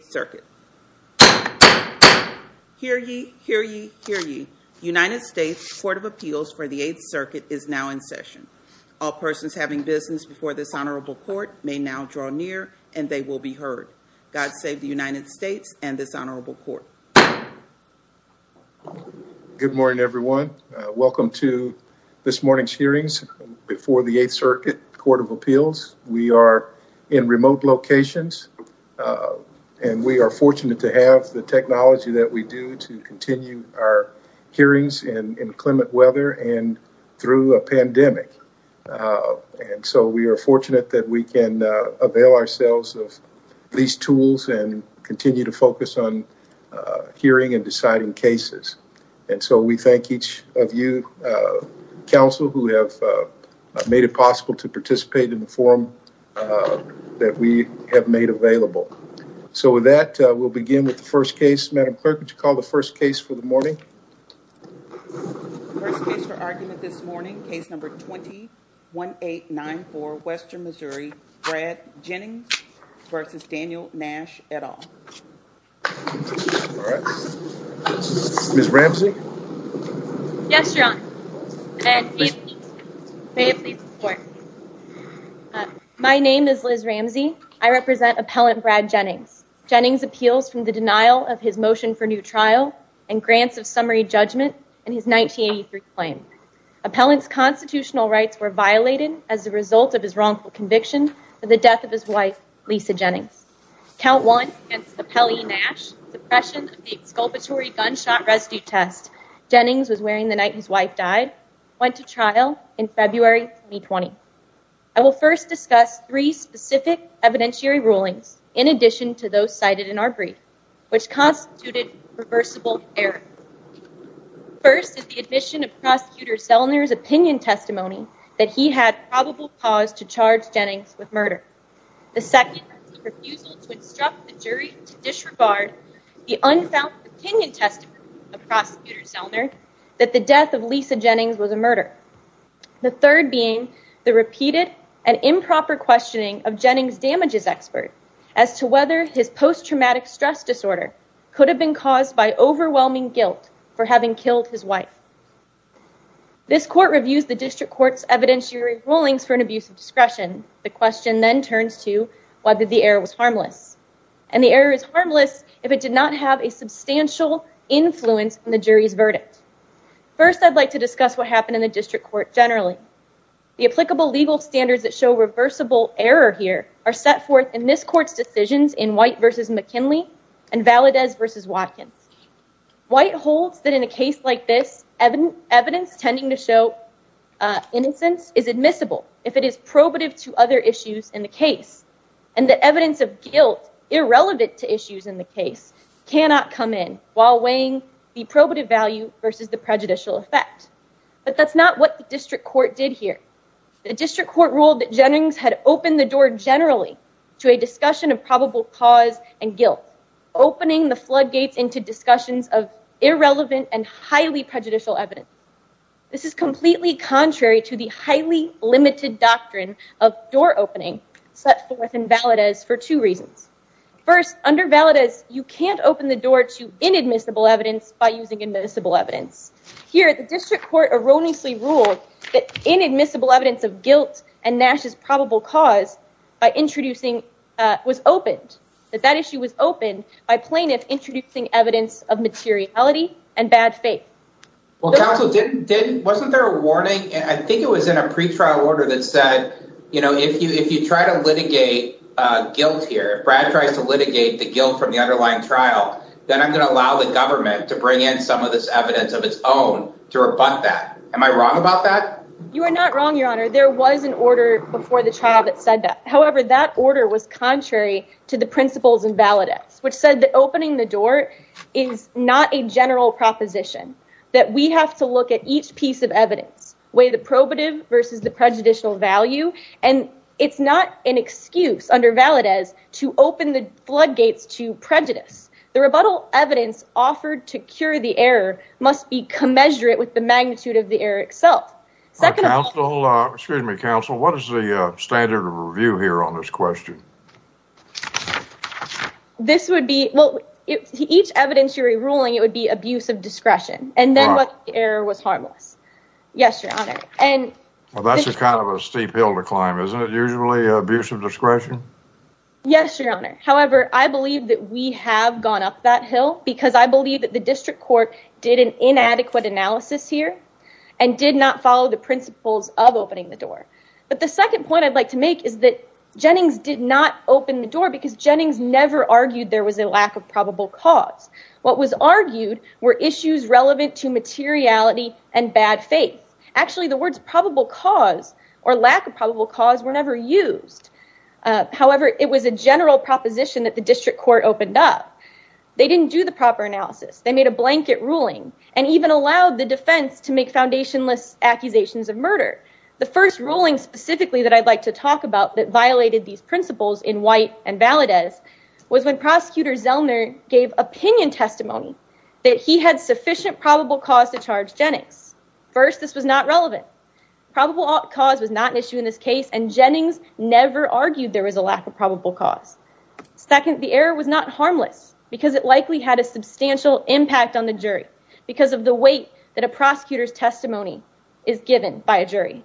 8th Circuit. Hear ye, hear ye, hear ye. United States Court of Appeals for the 8th Circuit is now in session. All persons having business before this honorable court may now draw near and they will be heard. God save the United States and this honorable court. Good morning everyone. Welcome to this morning's hearings before the 8th Circuit Court of Appeals. We are in remote locations and we are fortunate to have the technology that we do to continue our hearings in inclement weather and through a pandemic. And so we are fortunate that we can avail ourselves of these tools and continue to focus on hearing and deciding cases. And so we thank each of you counsel who have made it possible to participate in the forum that we have made available. So with that, we'll begin with the first case. Madam Clerk, would you call the first case for the morning? First case for argument this morning, case number 20-1894, Western Missouri, Brad Jennings versus Daniel Nash et al. Ms. Ramsey? Yes, Your Honor. My name is Liz Ramsey. I represent appellant Brad Jennings. Jennings appeals from the denial of his motion for new trial and grants of summary judgment in his 1983 claim. Appellant's constitutional rights were violated as a result of his wrongful conviction for the death of his wife, Lisa Jennings. Count one against Appellant Nash, suppression of the exculpatory gunshot residue test Jennings was wearing the night his wife died, went to trial in February 2020. I will first discuss three specific evidentiary rulings in addition to those cited in our brief, which constituted reversible error. First is the admission of Prosecutor Selner's opinion testimony that he had probable cause to charge Jennings with murder. The second is the refusal to instruct the jury to disregard the unfounded opinion testimony of Prosecutor Selner that the death of Lisa Jennings was a murder. The third being the repeated and improper questioning of Jennings' damages expert as to whether his post-traumatic stress disorder could have been caused by overwhelming guilt for having killed his wife. This court reviews the district court's evidentiary rulings for an abuse of discretion. The question then turns to whether the error was harmless. And the error is harmless if it did not have a substantial influence on the jury's verdict. First, I'd like to discuss what happened in the district court generally. The applicable legal standards that show reversible error here are set forth in this court's decisions in White v. McKinley and Valadez v. Watkins. White holds that in a case like this, evidence tending to show innocence is admissible if it is probative to other issues in the case. And that evidence of guilt irrelevant to issues in the case cannot come in while weighing the probative value versus the prejudicial effect. But that's not what the district court did here. The district court ruled that Jennings had opened the door generally to a discussion of probable cause and guilt, opening the floodgates into discussions of irrelevant and highly prejudicial evidence. This is completely contrary to the highly limited doctrine of door opening set forth in Valadez for two reasons. First, under Valadez, you can't open the door to inadmissible evidence by using admissible evidence. Here, the district court erroneously ruled that inadmissible evidence of guilt and Nash's probable cause was opened. That that issue was opened by plaintiffs introducing evidence of materiality and bad faith. Well, counsel didn't didn't wasn't there a warning? I think it was in a pretrial order that said, you know, if you if you try to litigate guilt here, Brad tries to litigate the guilt from the underlying trial. Then I'm going to allow the government to bring in some of this evidence of its own to rebut that. Am I wrong about that? You are not wrong, Your Honor. There was an order before the trial that said that. However, that order was contrary to the principles in Valadez, which said that opening the door is not a general proposition, that we have to look at each piece of evidence, weigh the probative versus the prejudicial value. And it's not an excuse under Valadez to open the floodgates to prejudice. The rebuttal evidence offered to cure the error must be commensurate with the magnitude of the error itself. Second, counsel, excuse me, counsel, what is the standard of review here on this question? This would be what each evidence you're ruling. It would be abuse of discretion. And then what error was harmless? Yes, Your Honor. And that's kind of a steep hill to climb, isn't it? Usually abuse of discretion. Yes, Your Honor. However, I believe that we have gone up that hill because I believe that the district court did an inadequate analysis here and did not follow the principles of opening the door. But the second point I'd like to make is that Jennings did not open the door because Jennings never argued there was a lack of probable cause. What was argued were issues relevant to materiality and bad faith. Actually, the words probable cause or lack of probable cause were never used. However, it was a general proposition that the district court opened up. They didn't do the proper analysis. They made a blanket ruling and even allowed the defense to make foundationless accusations of murder. The first ruling specifically that I'd like to talk about that violated these principles in White and Valadez was when Prosecutor Zellner gave opinion testimony that he had sufficient probable cause to charge Jennings. First, this was not relevant. Probable cause was not an issue in this case. And Jennings never argued there was a lack of probable cause. Second, the error was not harmless because it likely had a substantial impact on the jury because of the weight that a prosecutor's testimony is given by a jury.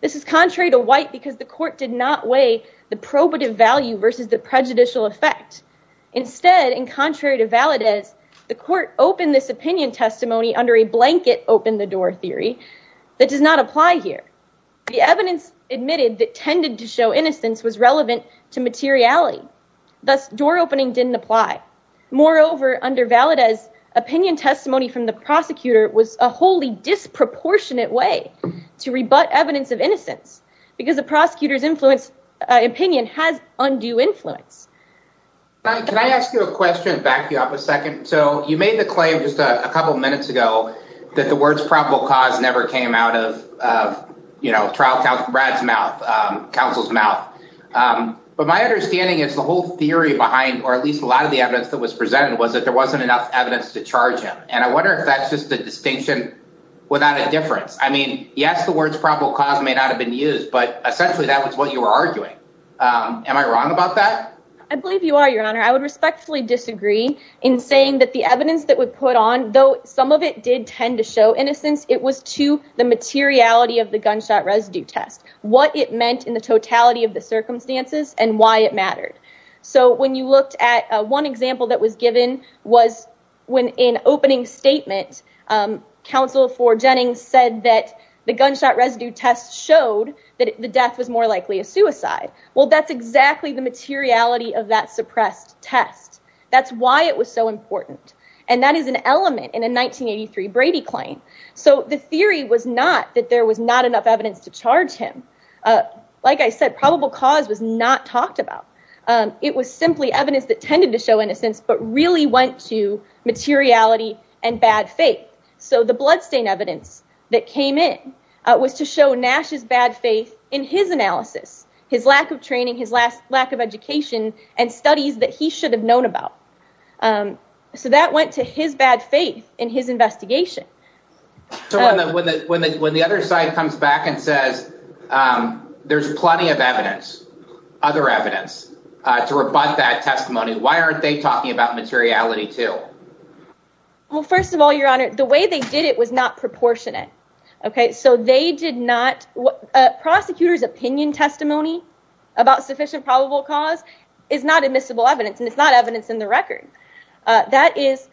This is contrary to White because the court did not weigh the probative value versus the prejudicial effect. Instead, and contrary to Valadez, the court opened this opinion testimony under a blanket open the door theory that does not apply here. The evidence admitted that tended to show innocence was relevant to materiality. Thus, door opening didn't apply. Moreover, under Valadez, opinion testimony from the prosecutor was a wholly disproportionate way to rebut evidence of innocence because the prosecutor's influence opinion has undue influence. Can I ask you a question? Back you up a second. So you made the claim just a couple of minutes ago that the words probable cause never came out of, you know, trial. Brad's mouth, counsel's mouth. But my understanding is the whole theory behind, or at least a lot of the evidence that was presented was that there wasn't enough evidence to charge him. And I wonder if that's just a distinction without a difference. I mean, yes, the words probable cause may not have been used, but essentially that was what you were arguing. Am I wrong about that? I believe you are, Your Honor. I would respectfully disagree in saying that the evidence that would put on, though some of it did tend to show innocence, it was to the materiality of the gunshot residue test, what it meant in the totality of the circumstances and why it mattered. So when you looked at one example that was given was when in opening statement, counsel for Jennings said that the gunshot residue test showed that the death was more likely a suicide. Well, that's exactly the materiality of that suppressed test. That's why it was so important. And that is an element in a 1983 Brady claim. So the theory was not that there was not enough evidence to charge him. Like I said, probable cause was not talked about. It was simply evidence that tended to show innocence, but really went to materiality and bad faith. So the bloodstain evidence that came in was to show Nash's bad faith in his analysis, his lack of training, his lack of education and studies that he should have known about. So that went to his bad faith in his investigation. So when the other side comes back and says there's plenty of evidence, other evidence to rebut that testimony, why aren't they talking about materiality, too? Well, first of all, your honor, the way they did it was not proportionate. OK, so they did not. Prosecutors opinion testimony about sufficient probable cause is not admissible evidence. And it's not evidence in the record. That is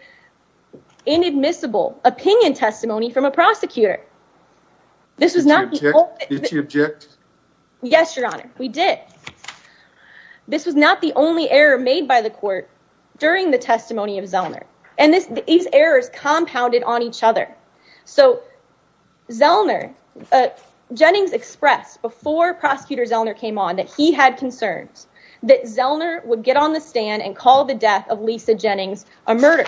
inadmissible. Opinion testimony from a prosecutor. This is not to object. Yes, your honor. We did. This was not the only error made by the court during the testimony of Zellner. And these errors compounded on each other. So Zellner Jennings expressed before prosecutor Zellner came on that he had concerns that Zellner would get on the stand and call the death of Lisa Jennings a murder.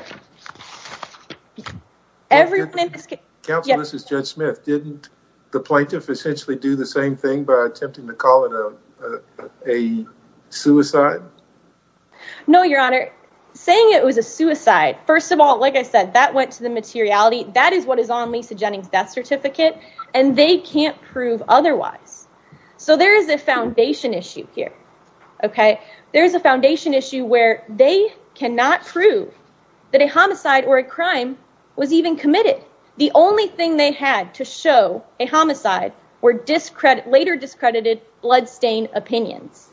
Everyone in this case, this is Judge Smith, didn't the plaintiff essentially do the same thing by attempting to call it a suicide? No, your honor. Saying it was a suicide. First of all, like I said, that went to the materiality. That is what is on Lisa Jennings death certificate. And they can't prove otherwise. So there is a foundation issue here. OK, there is a foundation issue where they cannot prove that a homicide or a crime was even committed. The only thing they had to show a homicide or discredit later discredited bloodstained opinions.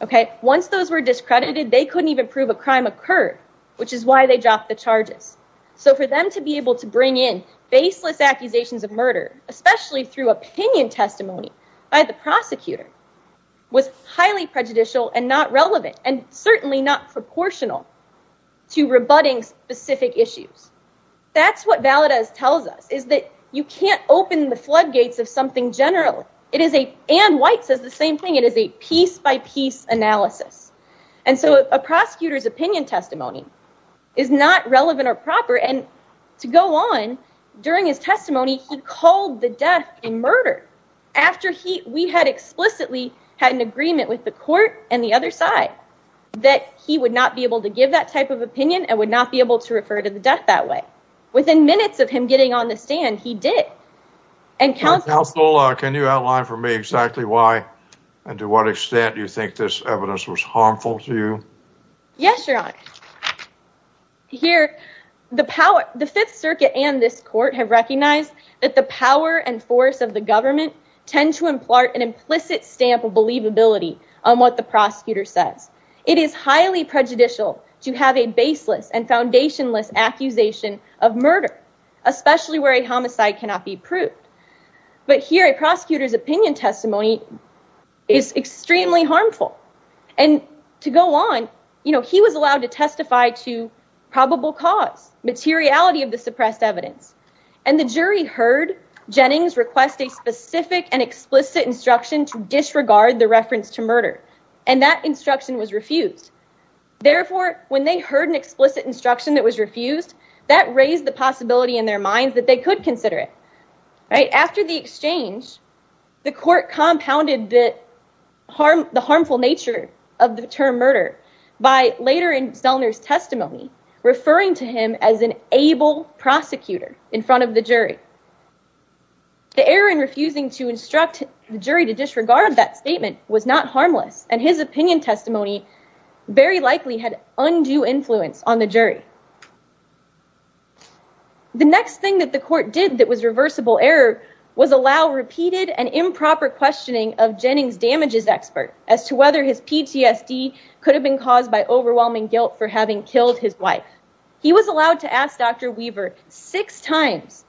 OK, once those were discredited, they couldn't even prove a crime occurred, which is why they dropped the charges. So for them to be able to bring in faceless accusations of murder, especially through opinion testimony by the prosecutor, was highly prejudicial and not relevant and certainly not proportional to rebutting specific issues. That's what Valdez tells us, is that you can't open the floodgates of something general. It is a and White says the same thing. It is a piece by piece analysis. And so a prosecutor's opinion testimony is not relevant or proper. And to go on during his testimony, he called the death and murder after he we had explicitly had an agreement with the court and the other side that he would not be able to give that type of opinion and would not be able to refer to the death that way. Within minutes of him getting on the stand, he did. And counsel, can you outline for me exactly why and to what extent you think this evidence was harmful to you? Yes, your honor. Here, the power, the Fifth Circuit and this court have recognized that the power and force of the government tend to impart an implicit stamp of believability on what the prosecutor says. It is highly prejudicial to have a baseless and foundationless accusation of murder, especially where a homicide cannot be proved. But here, a prosecutor's opinion testimony is extremely harmful. And to go on, you know, he was allowed to testify to probable cause materiality of the suppressed evidence. And the jury heard Jennings request a specific and explicit instruction to disregard the reference to murder. And that instruction was refused. Therefore, when they heard an explicit instruction that was refused, that raised the possibility in their minds that they could consider it right after the exchange. The court compounded that harm, the harmful nature of the term murder by later in Zellner's testimony, referring to him as an able prosecutor in front of the jury. The error in refusing to instruct the jury to disregard that statement was not harmless, and his opinion testimony very likely had undue influence on the jury. The next thing that the court did that was reversible error was allow repeated and improper questioning of Jennings damages expert as to whether his PTSD could have been caused by overwhelming guilt for having killed his wife. He was allowed to ask Dr. Weaver six times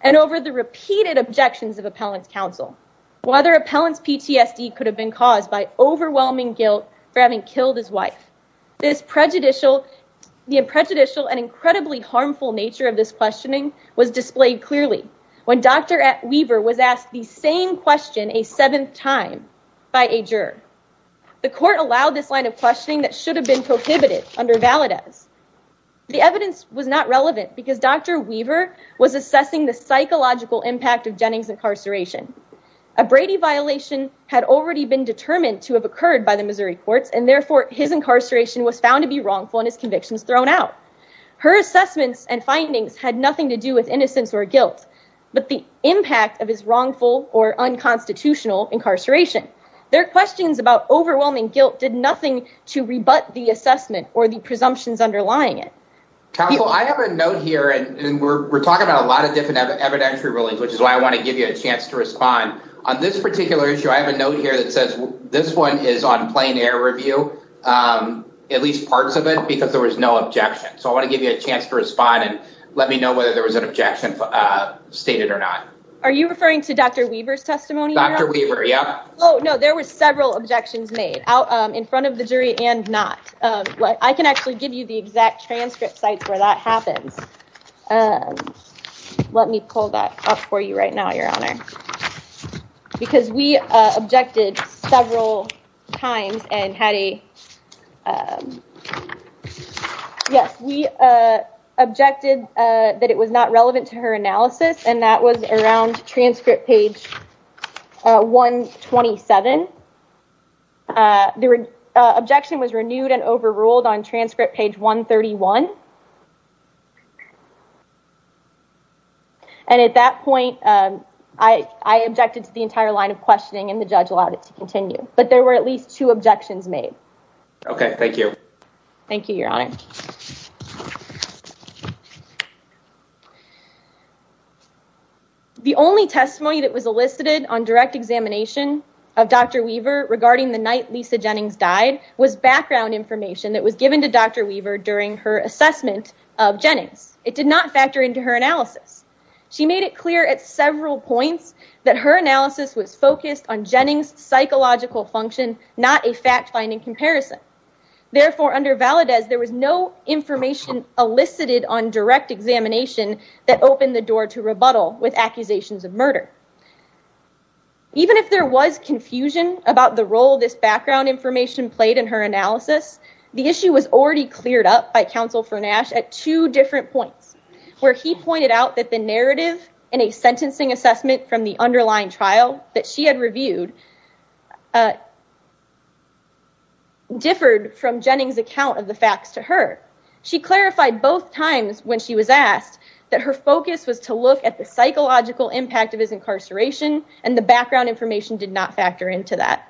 and over the repeated objections of appellant's counsel, whether appellant's PTSD could have been caused by overwhelming guilt for having killed his wife. This prejudicial, the prejudicial and incredibly harmful nature of this questioning was displayed clearly when Dr. Weaver was asked the same question a seventh time by a juror. The court allowed this line of questioning that should have been prohibited under Valadez. The evidence was not relevant because Dr. Weaver was assessing the psychological impact of Jennings incarceration. A Brady violation had already been determined to have occurred by the Missouri courts, and therefore his incarceration was found to be wrongful and his convictions thrown out. Her assessments and findings had nothing to do with innocence or guilt, but the impact of his wrongful or unconstitutional incarceration. Their questions about overwhelming guilt did nothing to rebut the assessment or the presumptions underlying it. I have a note here and we're talking about a lot of different evidentiary rulings, which is why I want to give you a chance to respond on this particular issue. I have a note here that says this one is on plain air review, at least parts of it, because there was no objection. So I want to give you a chance to respond and let me know whether there was an objection stated or not. Are you referring to Dr. Weaver's testimony? Dr. Weaver? Yeah. Oh, no. There were several objections made out in front of the jury and not what I can actually give you the exact transcript sites where that happens. Let me pull that up for you right now, Your Honor, because we objected several times and had a. Yes, we objected that it was not relevant to her analysis, and that was around transcript page 127. The objection was renewed and overruled on transcript page 131. And at that point, I objected to the entire line of questioning and the judge allowed it to continue. But there were at least two objections made. OK, thank you. Thank you, Your Honor. The only testimony that was elicited on direct examination of Dr. Weaver regarding the night Lisa Jennings died was background information that was given to Dr. Weaver during her assessment of Jennings. It did not factor into her analysis. She made it clear at several points that her analysis was focused on Jennings psychological function, not a fact finding comparison. Therefore, under Valadez, there was no information elicited on direct examination that opened the door to rebuttal with accusations of murder. Even if there was confusion about the role this background information played in her analysis, the issue was already cleared up by counsel for Nash at two different points where he pointed out that the narrative in a sentencing assessment from the underlying trial that she had reviewed. Differed from Jennings account of the facts to her, she clarified both times when she was asked that her focus was to look at the psychological impact of his incarceration and the background information did not factor into that.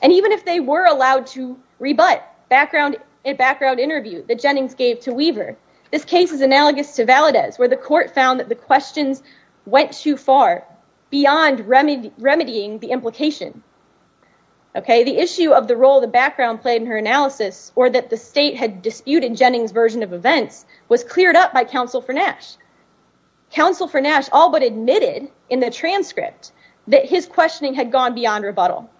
And even if they were allowed to rebut background and background interview that Jennings gave to Weaver, this case is analogous to Valadez, where the court found that the questions went too far beyond remedying the implication. OK, the issue of the role the background played in her analysis or that the state had disputed Jennings version of events was cleared up by counsel for Nash. Counsel for Nash all but admitted in the transcript that his questioning had gone beyond rebuttal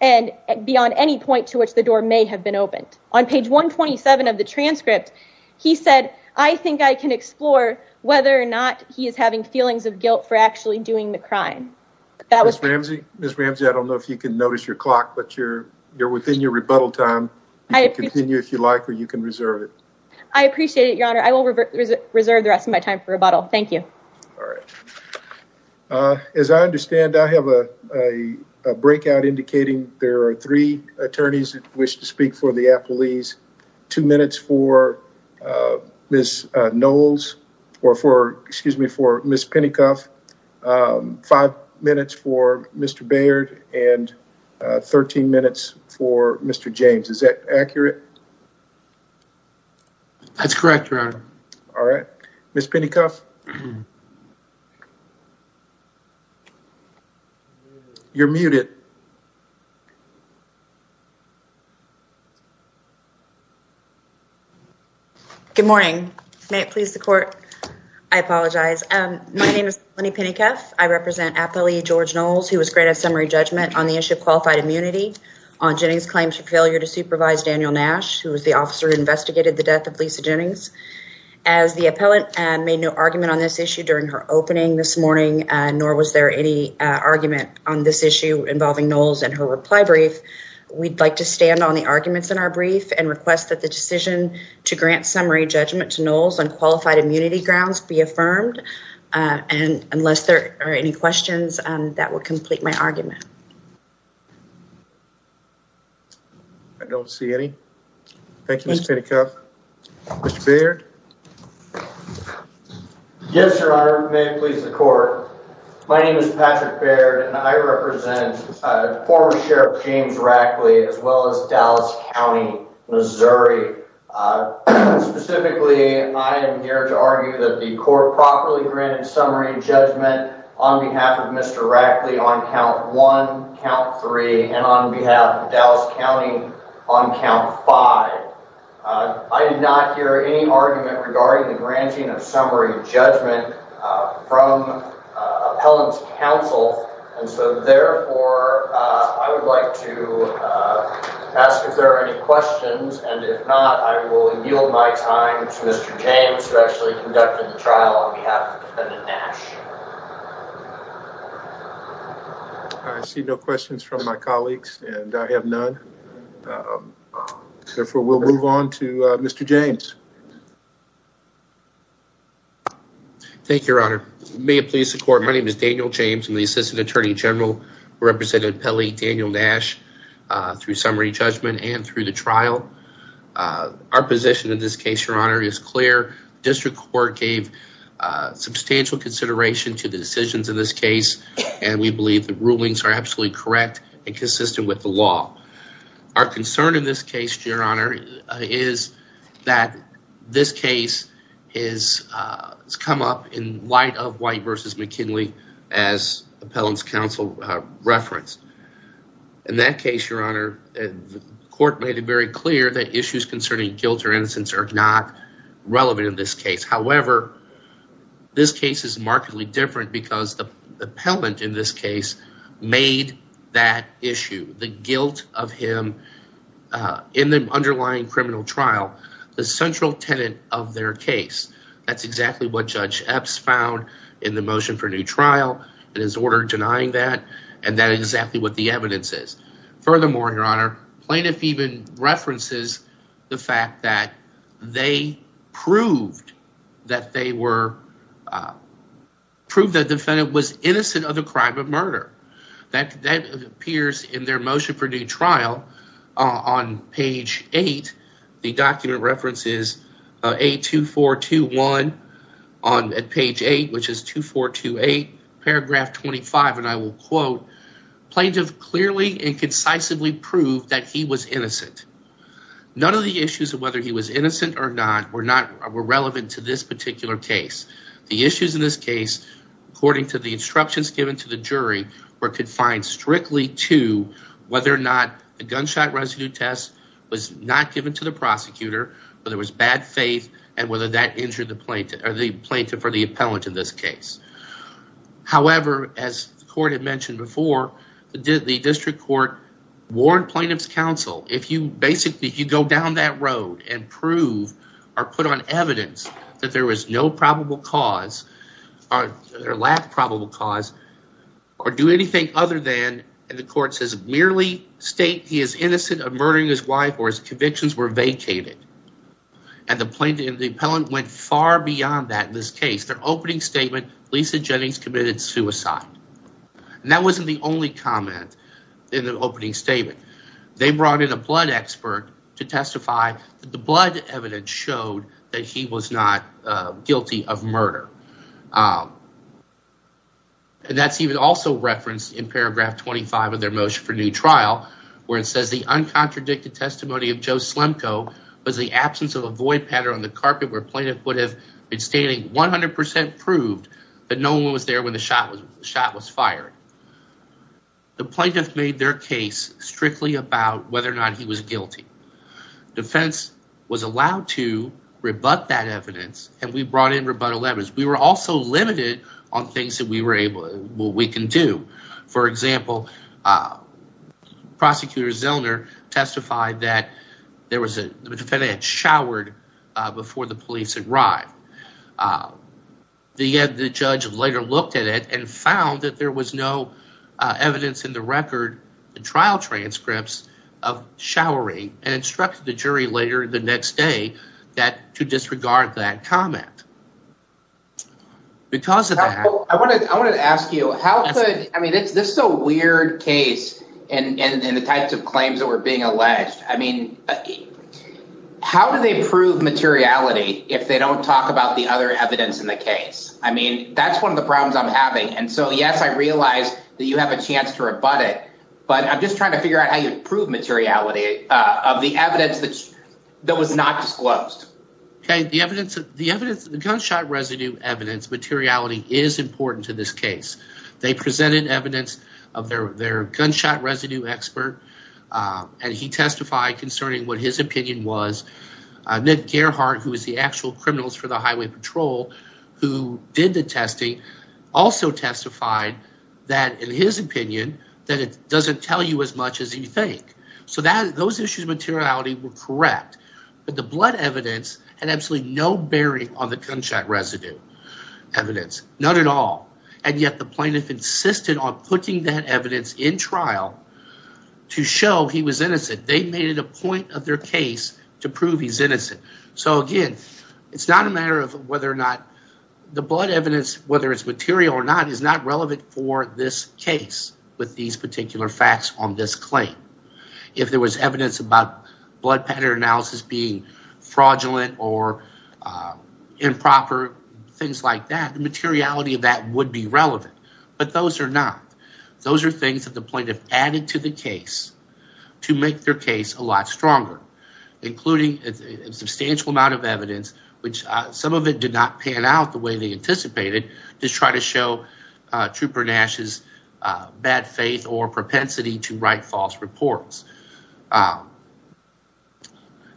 and beyond any point to which the door may have been opened on page 127 of the transcript. He said, I think I can explore whether or not he is having feelings of guilt for actually doing the crime. That was Ramsey. Miss Ramsey, I don't know if you can notice your clock, but you're you're within your rebuttal time. I continue, if you like, or you can reserve it. I appreciate it, your honor. I will reserve the rest of my time for rebuttal. Thank you. All right. As I understand, I have a breakout indicating there are three attorneys that wish to speak for the police. All right. So we have two minutes for Miss Ramsey's two minutes for this nose or for excuse me, for Miss Pennycuff five minutes for Mr. Baird and 13 minutes for Mr. James. Is that accurate? That's correct, your honor. All right. Miss Pennycuff. You're muted. Good morning. May it please the court. I apologize. My name is Lenny Pennycuff. I represent appellee George Knowles, who was granted summary judgment on the issue of qualified immunity on Jennings claims for failure to supervise Daniel Nash, who was the officer who investigated the death of Lisa Jennings as the appellate and made no argument on this issue during her opening this morning. Nor was there any argument on this issue involving Knowles and her reply brief. We'd like to stand on the arguments in our brief and request that the decision to grant summary judgment to Knowles on qualified immunity grounds be affirmed. And unless there are any questions that will complete my argument. I don't see any. Thank you, Miss Pennycuff. Mr. Baird. Yes, your honor. May it please the court. My name is Patrick Baird and I represent former Sheriff James Rackley as well as Dallas County, Missouri. Specifically, I am here to argue that the court properly granted summary judgment on behalf of Mr. Rackley on count one, count three, and on behalf of Dallas County on count five. I did not hear any argument regarding the granting of summary judgment from appellate counsel. And so therefore, I would like to ask if there are any questions and if not, I will yield my time to Mr. James, who actually conducted the trial on behalf of the defendant, Nash. I see no questions from my colleagues and I have none. Therefore, we'll move on to Mr. James. Thank you, your honor. May it please the court. My name is Daniel James and the assistant attorney general represented Pelley Daniel Nash through summary judgment and through the trial. Our position in this case, your honor, is clear. District Court gave substantial consideration to the decisions in this case. And we believe the rulings are absolutely correct and consistent with the law. Our concern in this case, your honor, is that this case is come up in light of white versus McKinley as appellant's counsel referenced. In that case, your honor, the court made it very clear that issues concerning guilt or innocence are not relevant in this case. However, this case is markedly different because the appellant in this case made that issue, the guilt of him in the underlying criminal trial, the central tenant of their case. That's exactly what Judge Epps found in the motion for new trial and his order denying that. And that is exactly what the evidence is. Furthermore, your honor, plaintiff even references the fact that they proved that they were proved that defendant was innocent of the crime of murder that appears in their motion for new trial on page eight. The document references A2421 on page eight, which is 2428 paragraph 25, and I will quote, plaintiff clearly and concisely proved that he was innocent. None of the issues of whether he was innocent or not were relevant to this particular case. The issues in this case, according to the instructions given to the jury, were confined strictly to whether or not the gunshot residue test was not given to the prosecutor, whether it was bad faith, and whether that injured the plaintiff or the appellant in this case. However, as the court had mentioned before, the district court warned plaintiff's counsel, if you basically, if you go down that road and prove or put on evidence that there was no probable cause or lack of probable cause or do anything other than, and the court says merely state he is innocent of murdering his wife or his convictions were vacated. And the plaintiff and the appellant went far beyond that in this case. Their opening statement, Lisa Jennings committed suicide. And that wasn't the only comment in the opening statement. They brought in a blood expert to testify that the blood evidence showed that he was not guilty of murder. And that's even also referenced in paragraph 25 of their motion for new trial, where it says the uncontradicted testimony of Joe Slemko was the absence of a void pattern on the carpet where plaintiff would have been stating 100% proved that no one was there when the shot was fired. The plaintiff made their case strictly about whether or not he was guilty. Defense was allowed to rebut that evidence, and we brought in rebuttal evidence. We were also limited on things that we were able to do. For example, Prosecutor Zellner testified that there was a showered before the police arrived. The judge later looked at it and found that there was no evidence in the record trial transcripts of showering and instructed the jury later the next day that to disregard that comment. Because of that, I want to ask you, how could I mean, it's just so weird case and the types of claims that were being alleged. I mean, how do they prove materiality if they don't talk about the other evidence in the case? I mean, that's one of the problems I'm having. And so, yes, I realize that you have a chance to rebut it, but I'm just trying to figure out how you prove materiality of the evidence that that was not disclosed. The evidence, the evidence, the gunshot residue evidence materiality is important to this case. They presented evidence of their gunshot residue expert, and he testified concerning what his opinion was. Nick Gerhart, who is the actual criminals for the highway patrol, who did the testing, also testified that in his opinion that it doesn't tell you as much as you think. So that those issues materiality were correct, but the blood evidence had absolutely no bearing on the gunshot residue evidence. Not at all. And yet the plaintiff insisted on putting that evidence in trial to show he was innocent. They made it a point of their case to prove he's innocent. So, again, it's not a matter of whether or not the blood evidence, whether it's material or not, is not relevant for this case with these particular facts on this claim. If there was evidence about blood pattern analysis being fraudulent or improper, things like that, the materiality of that would be relevant. But those are not. The plaintiff added to the case to make their case a lot stronger, including a substantial amount of evidence, which some of it did not pan out the way they anticipated, to try to show Trooper Nash's bad faith or propensity to write false reports.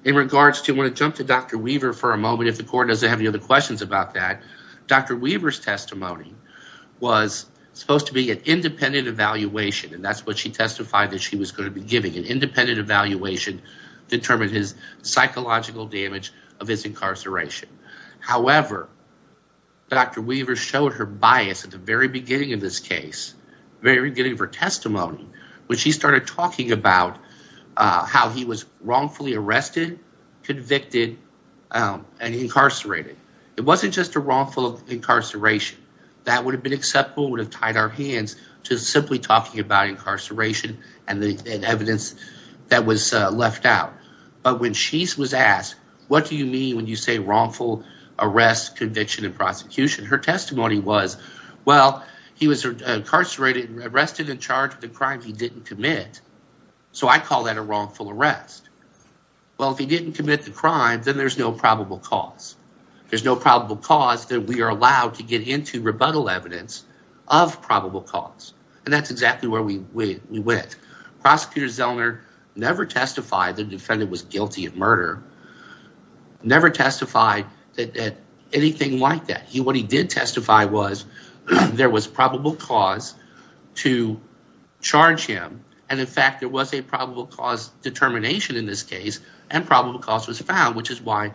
In regards to, I want to jump to Dr. Weaver for a moment if the court doesn't have any other questions about that. Dr. Weaver's testimony was supposed to be an independent evaluation, and that's what she testified that she was going to be giving, an independent evaluation to determine his psychological damage of his incarceration. However, Dr. Weaver showed her bias at the very beginning of this case, very beginning of her testimony, when she started talking about how he was wrongfully arrested, convicted, and incarcerated. It wasn't just a wrongful incarceration. That would have been acceptable, would have tied our hands to simply talking about incarceration and the evidence that was left out. But when she was asked, what do you mean when you say wrongful arrest, conviction, and prosecution, her testimony was, well, he was incarcerated and arrested and charged with a crime he didn't commit. So I call that a wrongful arrest. Well, if he didn't commit the crime, then there's no probable cause. There's no probable cause that we are allowed to get into rebuttal evidence of probable cause. And that's exactly where we went. Prosecutor Zellner never testified that the defendant was guilty of murder, never testified that anything like that. What he did testify was there was probable cause to charge him. And, in fact, there was a probable cause determination in this case, and probable cause was found, which is why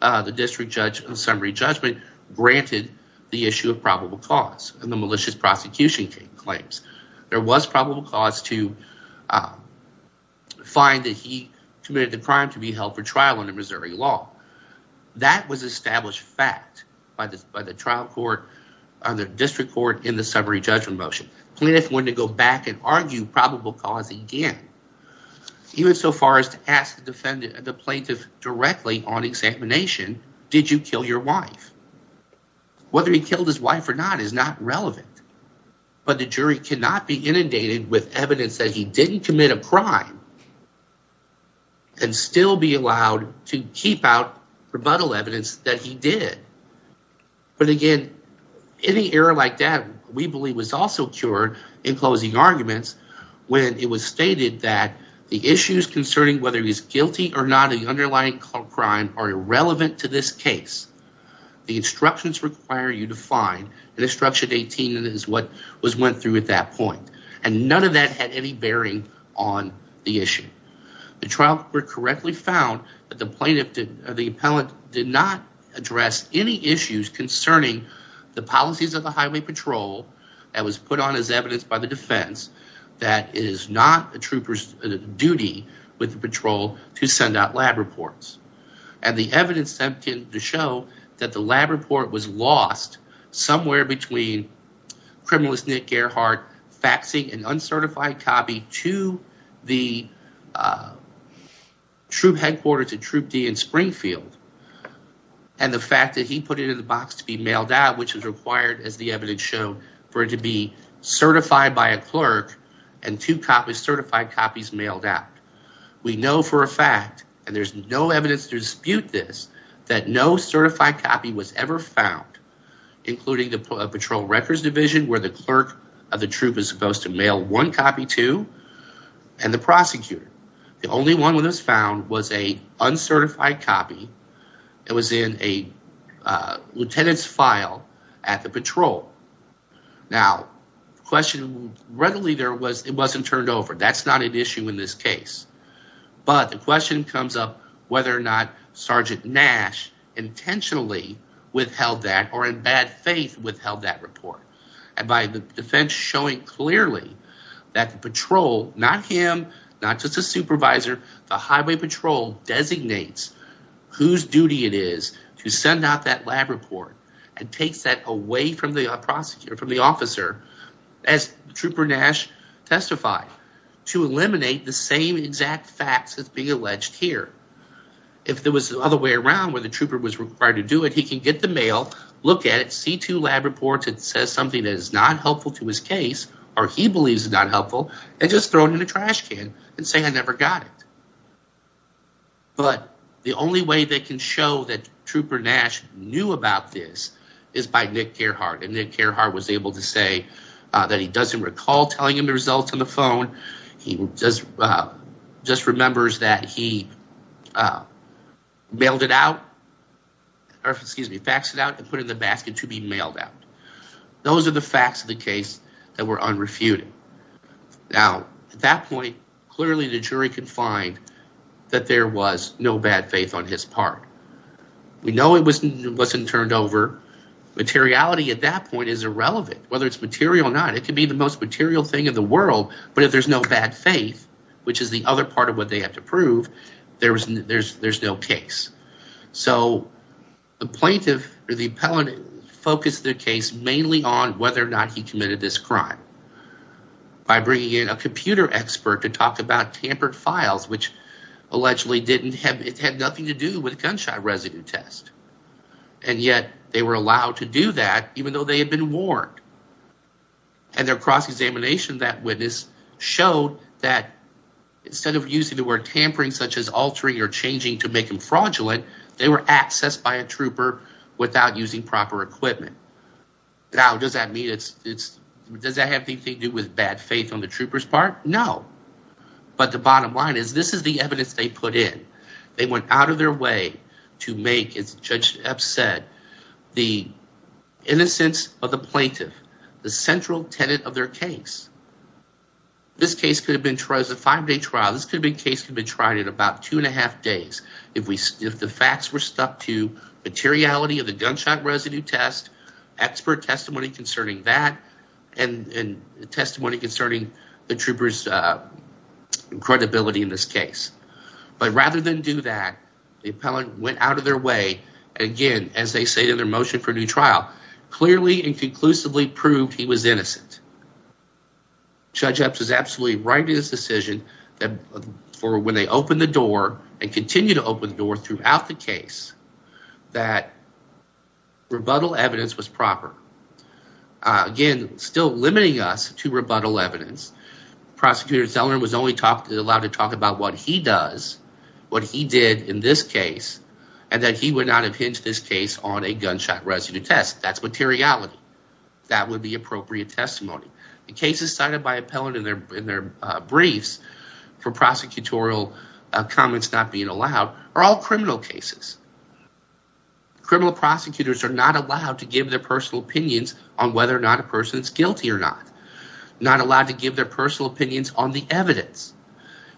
the district judge of summary judgment granted the issue of probable cause in the malicious prosecution claims. There was probable cause to find that he committed the crime to be held for trial under Missouri law. That was established fact by the trial court on the district court in the summary judgment motion. Plaintiff wanted to go back and argue probable cause again, even so far as to ask the plaintiff directly on examination, did you kill your wife? Whether he killed his wife or not is not relevant, but the jury cannot be inundated with evidence that he didn't commit a crime and still be allowed to keep out rebuttal evidence that he did. But, again, any error like that, we believe, was also cured in closing arguments when it was stated that the issues concerning whether he's guilty or not of the underlying crime are irrelevant to this case. The instructions require you to find, and instruction 18 is what was went through at that point. And none of that had any bearing on the issue. The trial court correctly found that the plaintiff, or the appellant, did not address any issues concerning the policies of the highway patrol that was put on as evidence by the defense that it is not a trooper's duty with the patrol to send out lab reports. And the evidence to show that the lab report was lost somewhere between criminalist Nick Gerhardt faxing an uncertified copy to the troop headquarters at Troop D in Springfield. And the fact that he put it in the box to be mailed out, which is required, as the evidence showed, for it to be certified by a clerk and two copies, certified copies, mailed out. We know for a fact, and there's no evidence to dispute this, that no certified copy was ever found, including the Patrol Records Division, where the clerk of the troop is supposed to mail one copy to, and the prosecutor. The only one that was found was an uncertified copy that was in a lieutenant's file at the patrol. Now, the question readily there was it wasn't turned over. That's not an issue in this case. But the question comes up whether or not Sergeant Nash intentionally withheld that or in bad faith withheld that report. And by the defense showing clearly that the patrol, not him, not just a supervisor, the Highway Patrol designates whose duty it is to send out that lab report and takes that away from the prosecutor, from the officer, as Trooper Nash testified, to eliminate the same exact facts that's being alleged here. If there was the other way around where the trooper was required to do it, he can get the mail, look at it, see two lab reports, it says something that is not helpful to his case, or he believes is not helpful, and just throw it in a trash can and say, I never got it. But the only way they can show that Trooper Nash knew about this is by Nick Careheart. And Nick Careheart was able to say that he doesn't recall telling him the results on the phone. He just remembers that he mailed it out, or excuse me, faxed it out and put it in the basket to be mailed out. Those are the facts of the case that were unrefuted. Now, at that point, clearly the jury can find that there was no bad faith on his part. We know it wasn't turned over. Materiality at that point is irrelevant, whether it's material or not. It could be the most material thing in the world, but if there's no bad faith, which is the other part of what they have to prove, there's no case. So the plaintiff or the appellant focused their case mainly on whether or not he committed this crime by bringing in a computer expert to talk about tampered files, which allegedly didn't have it had nothing to do with gunshot residue test. And yet they were allowed to do that, even though they had been warned. And their cross-examination of that witness showed that instead of using the word tampering, such as altering or changing to make him fraudulent, they were accessed by a trooper without using proper equipment. Now, does that have anything to do with bad faith on the trooper's part? No. But the bottom line is this is the evidence they put in. They went out of their way to make, as Judge Epps said, the innocence of the plaintiff the central tenet of their case. This case could have been tried as a five-day trial. This case could have been tried in about two and a half days if the facts were stuck to materiality of the gunshot residue test, expert testimony concerning that, and testimony concerning the trooper's credibility in this case. But rather than do that, the appellant went out of their way, again, as they say to their motion for new trial, clearly and conclusively proved he was innocent. Judge Epps is absolutely right in his decision that for when they opened the door and continue to open the door throughout the case, that rebuttal evidence was proper. Again, still limiting us to rebuttal evidence. Prosecutor Zeller was only allowed to talk about what he does, what he did in this case, and that he would not have hinged this case on a gunshot residue test. That's materiality. That would be appropriate testimony. The cases cited by appellant in their briefs for prosecutorial comments not being allowed are all criminal cases. Criminal prosecutors are not allowed to give their personal opinions on whether or not a person is guilty or not, not allowed to give their personal opinions on the evidence.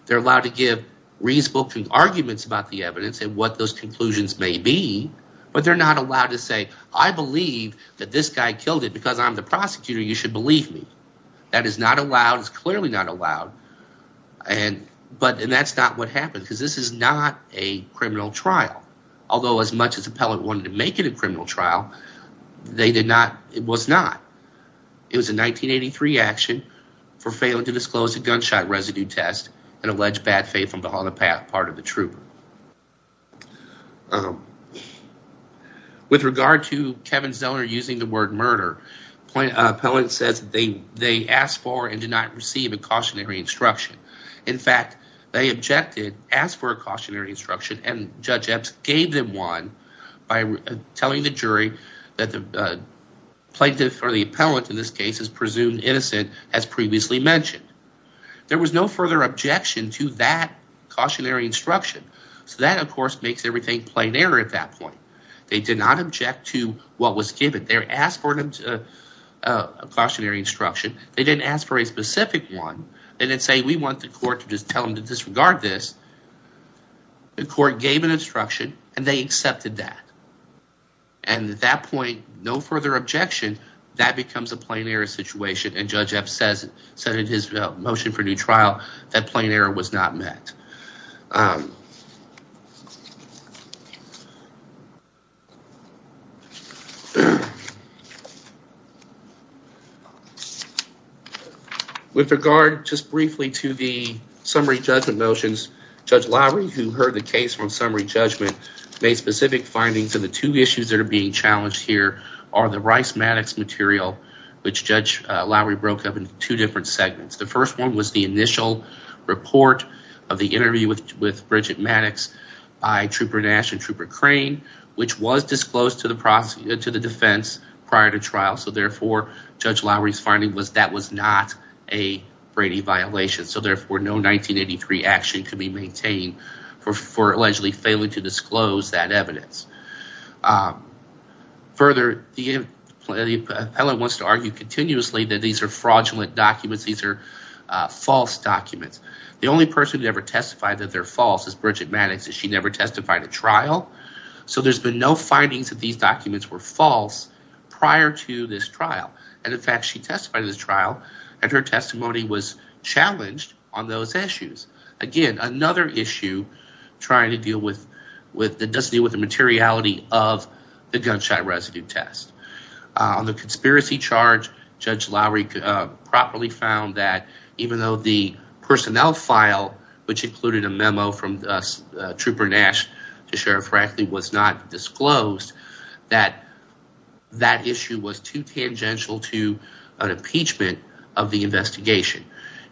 They're allowed to give reasonable arguments about the evidence and what those conclusions may be, but they're not allowed to say, I believe that this guy killed it because I'm the prosecutor. You should believe me. That is not allowed. It's clearly not allowed. But that's not what happened because this is not a criminal trial, although as much as appellant wanted to make it a criminal trial, they did not. It was not. It was a 1983 action for failing to disclose a gunshot residue test and alleged bad faith on the part of the trooper. With regard to Kevin Zellner using the word murder, appellant says they asked for and did not receive a cautionary instruction. In fact, they objected, asked for a cautionary instruction, and Judge Epps gave them one by telling the jury that the plaintiff or the appellant in this case is presumed innocent as previously mentioned. There was no further objection to that cautionary instruction. So that, of course, makes everything plain error at that point. They did not object to what was given. They asked for a cautionary instruction. They didn't ask for a specific one. They didn't say we want the court to just tell them to disregard this. The court gave an instruction and they accepted that. And at that point, no further objection. That becomes a plain error situation, and Judge Epps said in his motion for new trial that plain error was not met. With regard just briefly to the summary judgment motions, Judge Lowry, who heard the case from summary judgment, made specific findings of the two issues that are being challenged here are the Rice-Maddox material, which Judge Lowry broke up into two different segments. The first one was the initial report of the interview with Bridget Maddox by Trooper Nash and Trooper Crane, which was disclosed to the defense prior to trial. So therefore, Judge Lowry's finding was that was not a Brady violation. So therefore, no 1983 action could be maintained for allegedly failing to disclose that evidence. Further, the appellate wants to argue continuously that these are fraudulent documents. These are false documents. The only person who ever testified that they're false is Bridget Maddox. She never testified at trial. So there's been no findings that these documents were false prior to this trial. And in fact, she testified in this trial and her testimony was challenged on those issues. Again, another issue trying to deal with with the does deal with the materiality of the gunshot residue test on the conspiracy charge. Judge Lowry properly found that even though the personnel file, which included a memo from Trooper Nash to Sheriff Franklin, was not disclosed, that that issue was too tangential to an impeachment of the investigation.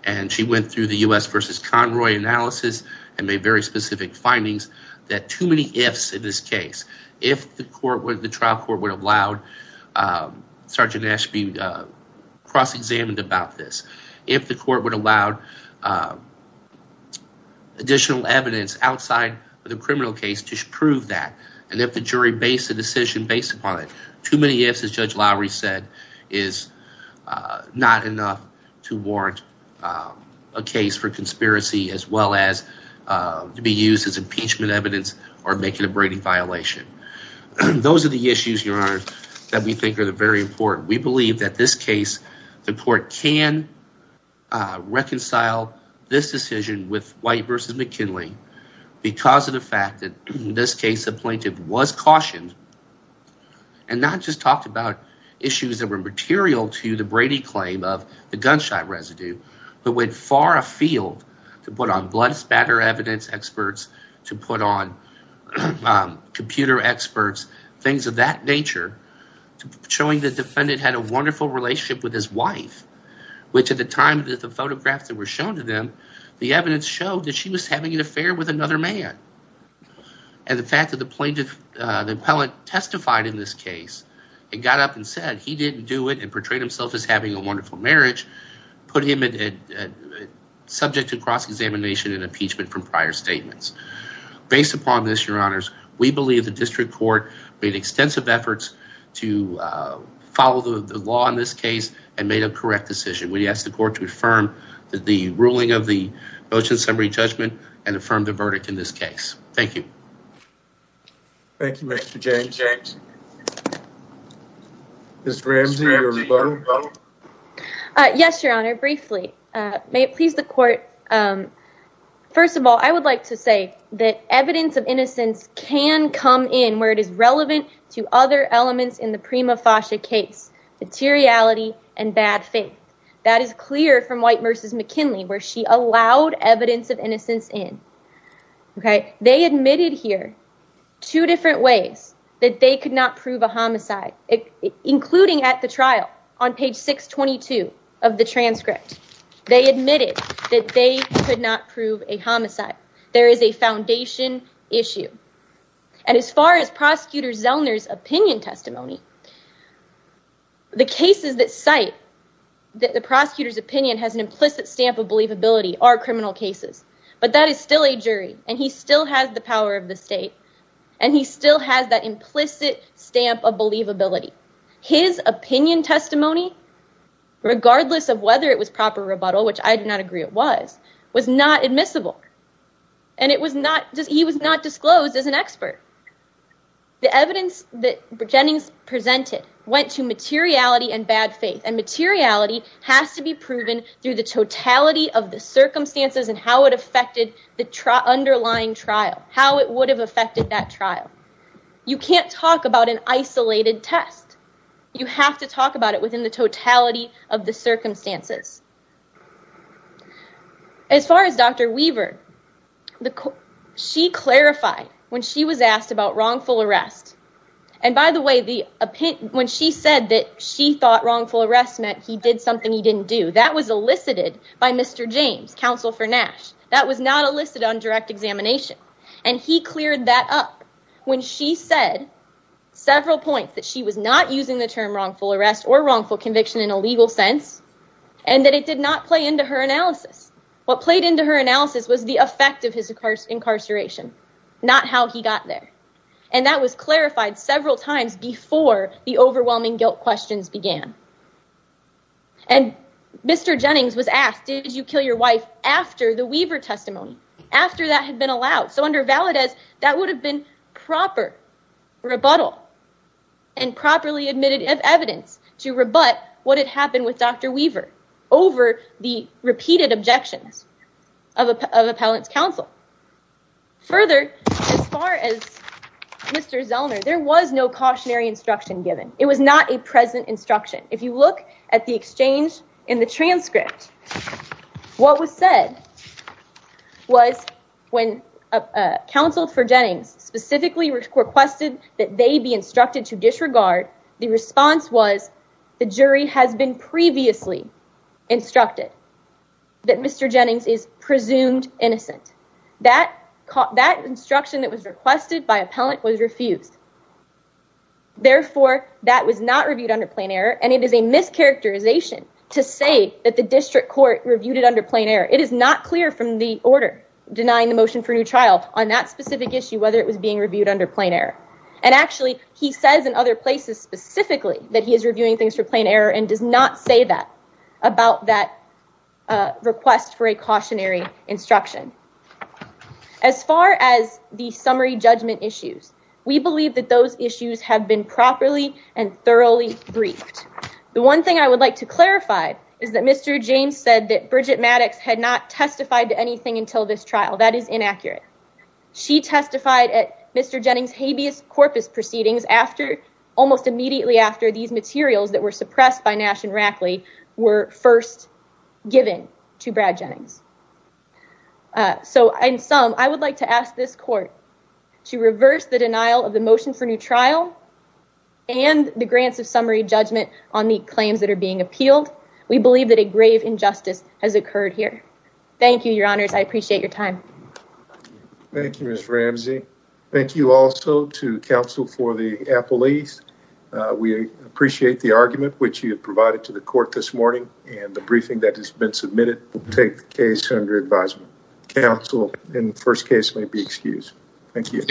And she went through the U.S. versus Conroy analysis and made very specific findings that too many ifs in this case. If the trial court would have allowed Sergeant Nash to be cross-examined about this, if the court would allow additional evidence outside of the criminal case to prove that, and if the jury based a decision based upon it, too many ifs, as Judge Lowry said, is not enough to warrant a case for conspiracy as well as to be used as impeachment evidence or make it a Brady violation. Those are the issues, Your Honor, that we think are very important. We believe that this case, the court can reconcile this decision with White versus McKinley because of the fact that in this case, the plaintiff was cautioned and not just talked about issues that were material to the Brady claim of the gunshot residue, but went far afield to put on blood spatter evidence experts, to put on computer experts, things of that nature, showing the defendant had a wonderful relationship with his wife, which at the time that the photographs that were shown to them, the evidence showed that she was having an affair with another man. And the fact that the plaintiff, the appellant testified in this case and got up and said he didn't do it and portrayed himself as having a wonderful marriage, put him subject to cross-examination and impeachment from prior statements. Based upon this, Your Honors, we believe the district court made extensive efforts to follow the law in this case and made a correct decision. We ask the court to affirm the ruling of the motion summary judgment and affirm the verdict in this case. Thank you. Thank you, Mr. James. Ms. Ramsey, your rebuttal? Yes, Your Honor, briefly. May it please the court. First of all, I would like to say that evidence of innocence can come in where it is relevant to other elements in the prima facie case, materiality and bad faith. That is clear from White v. McKinley, where she allowed evidence of innocence in. They admitted here two different ways that they could not prove a homicide, including at the trial on page 622 of the transcript. They admitted that they could not prove a homicide. There is a foundation issue. And as far as Prosecutor Zellner's opinion testimony, the cases that cite that the prosecutor's opinion has an implicit stamp of believability are criminal cases. But that is still a jury, and he still has the power of the state, and he still has that implicit stamp of believability. His opinion testimony, regardless of whether it was proper rebuttal, which I do not agree it was, was not admissible. And he was not disclosed as an expert. The evidence that Jennings presented went to materiality and bad faith. And materiality has to be proven through the totality of the circumstances and how it affected the underlying trial, how it would have affected that trial. You can't talk about an isolated test. You have to talk about it within the totality of the circumstances. As far as Dr. Weaver, she clarified when she was asked about wrongful arrest. And by the way, when she said that she thought wrongful arrest meant he did something he didn't do, that was elicited by Mr. James, counsel for Nash. That was not elicited on direct examination. And he cleared that up when she said several points that she was not using the term wrongful arrest or wrongful conviction in a legal sense, and that it did not play into her analysis. What played into her analysis was the effect of his incarceration, not how he got there. And that was clarified several times before the overwhelming guilt questions began. And Mr. Jennings was asked, did you kill your wife after the Weaver testimony, after that had been allowed. So under Valadez, that would have been proper rebuttal and properly admitted evidence to rebut what had happened with Dr. Weaver over the repeated objections of appellant's counsel. Further, as far as Mr. Zellner, there was no cautionary instruction given. It was not a present instruction. If you look at the exchange in the transcript, what was said was when counsel for Jennings specifically requested that they be instructed to disregard, the response was the jury has been previously instructed that Mr. Jennings is presumed innocent. That instruction that was requested by appellant was refused. Therefore, that was not reviewed under plain error, and it is a mischaracterization to say that the district court reviewed it under plain error. It is not clear from the order denying the motion for new trial on that specific issue whether it was being reviewed under plain error. And actually, he says in other places specifically that he is reviewing things for plain error and does not say that about that request for a cautionary instruction. As far as the summary judgment issues, we believe that those issues have been properly and thoroughly briefed. The one thing I would like to clarify is that Mr. James said that Bridget Maddox had not testified to anything until this trial. That is inaccurate. She testified at Mr. Jennings' habeas corpus proceedings almost immediately after these materials that were suppressed by Nash and Rackley were first given to Brad Jennings. So in sum, I would like to ask this court to reverse the denial of the motion for new trial and the grants of summary judgment on the claims that are being appealed. We believe that a grave injustice has occurred here. Thank you, your honors. I appreciate your time. Thank you, Ms. Ramsey. Thank you also to counsel for the appellees. We appreciate the argument which you have provided to the court this morning and the briefing that has been submitted will take the case under advisement. Counsel in the first case may be excused. Thank you.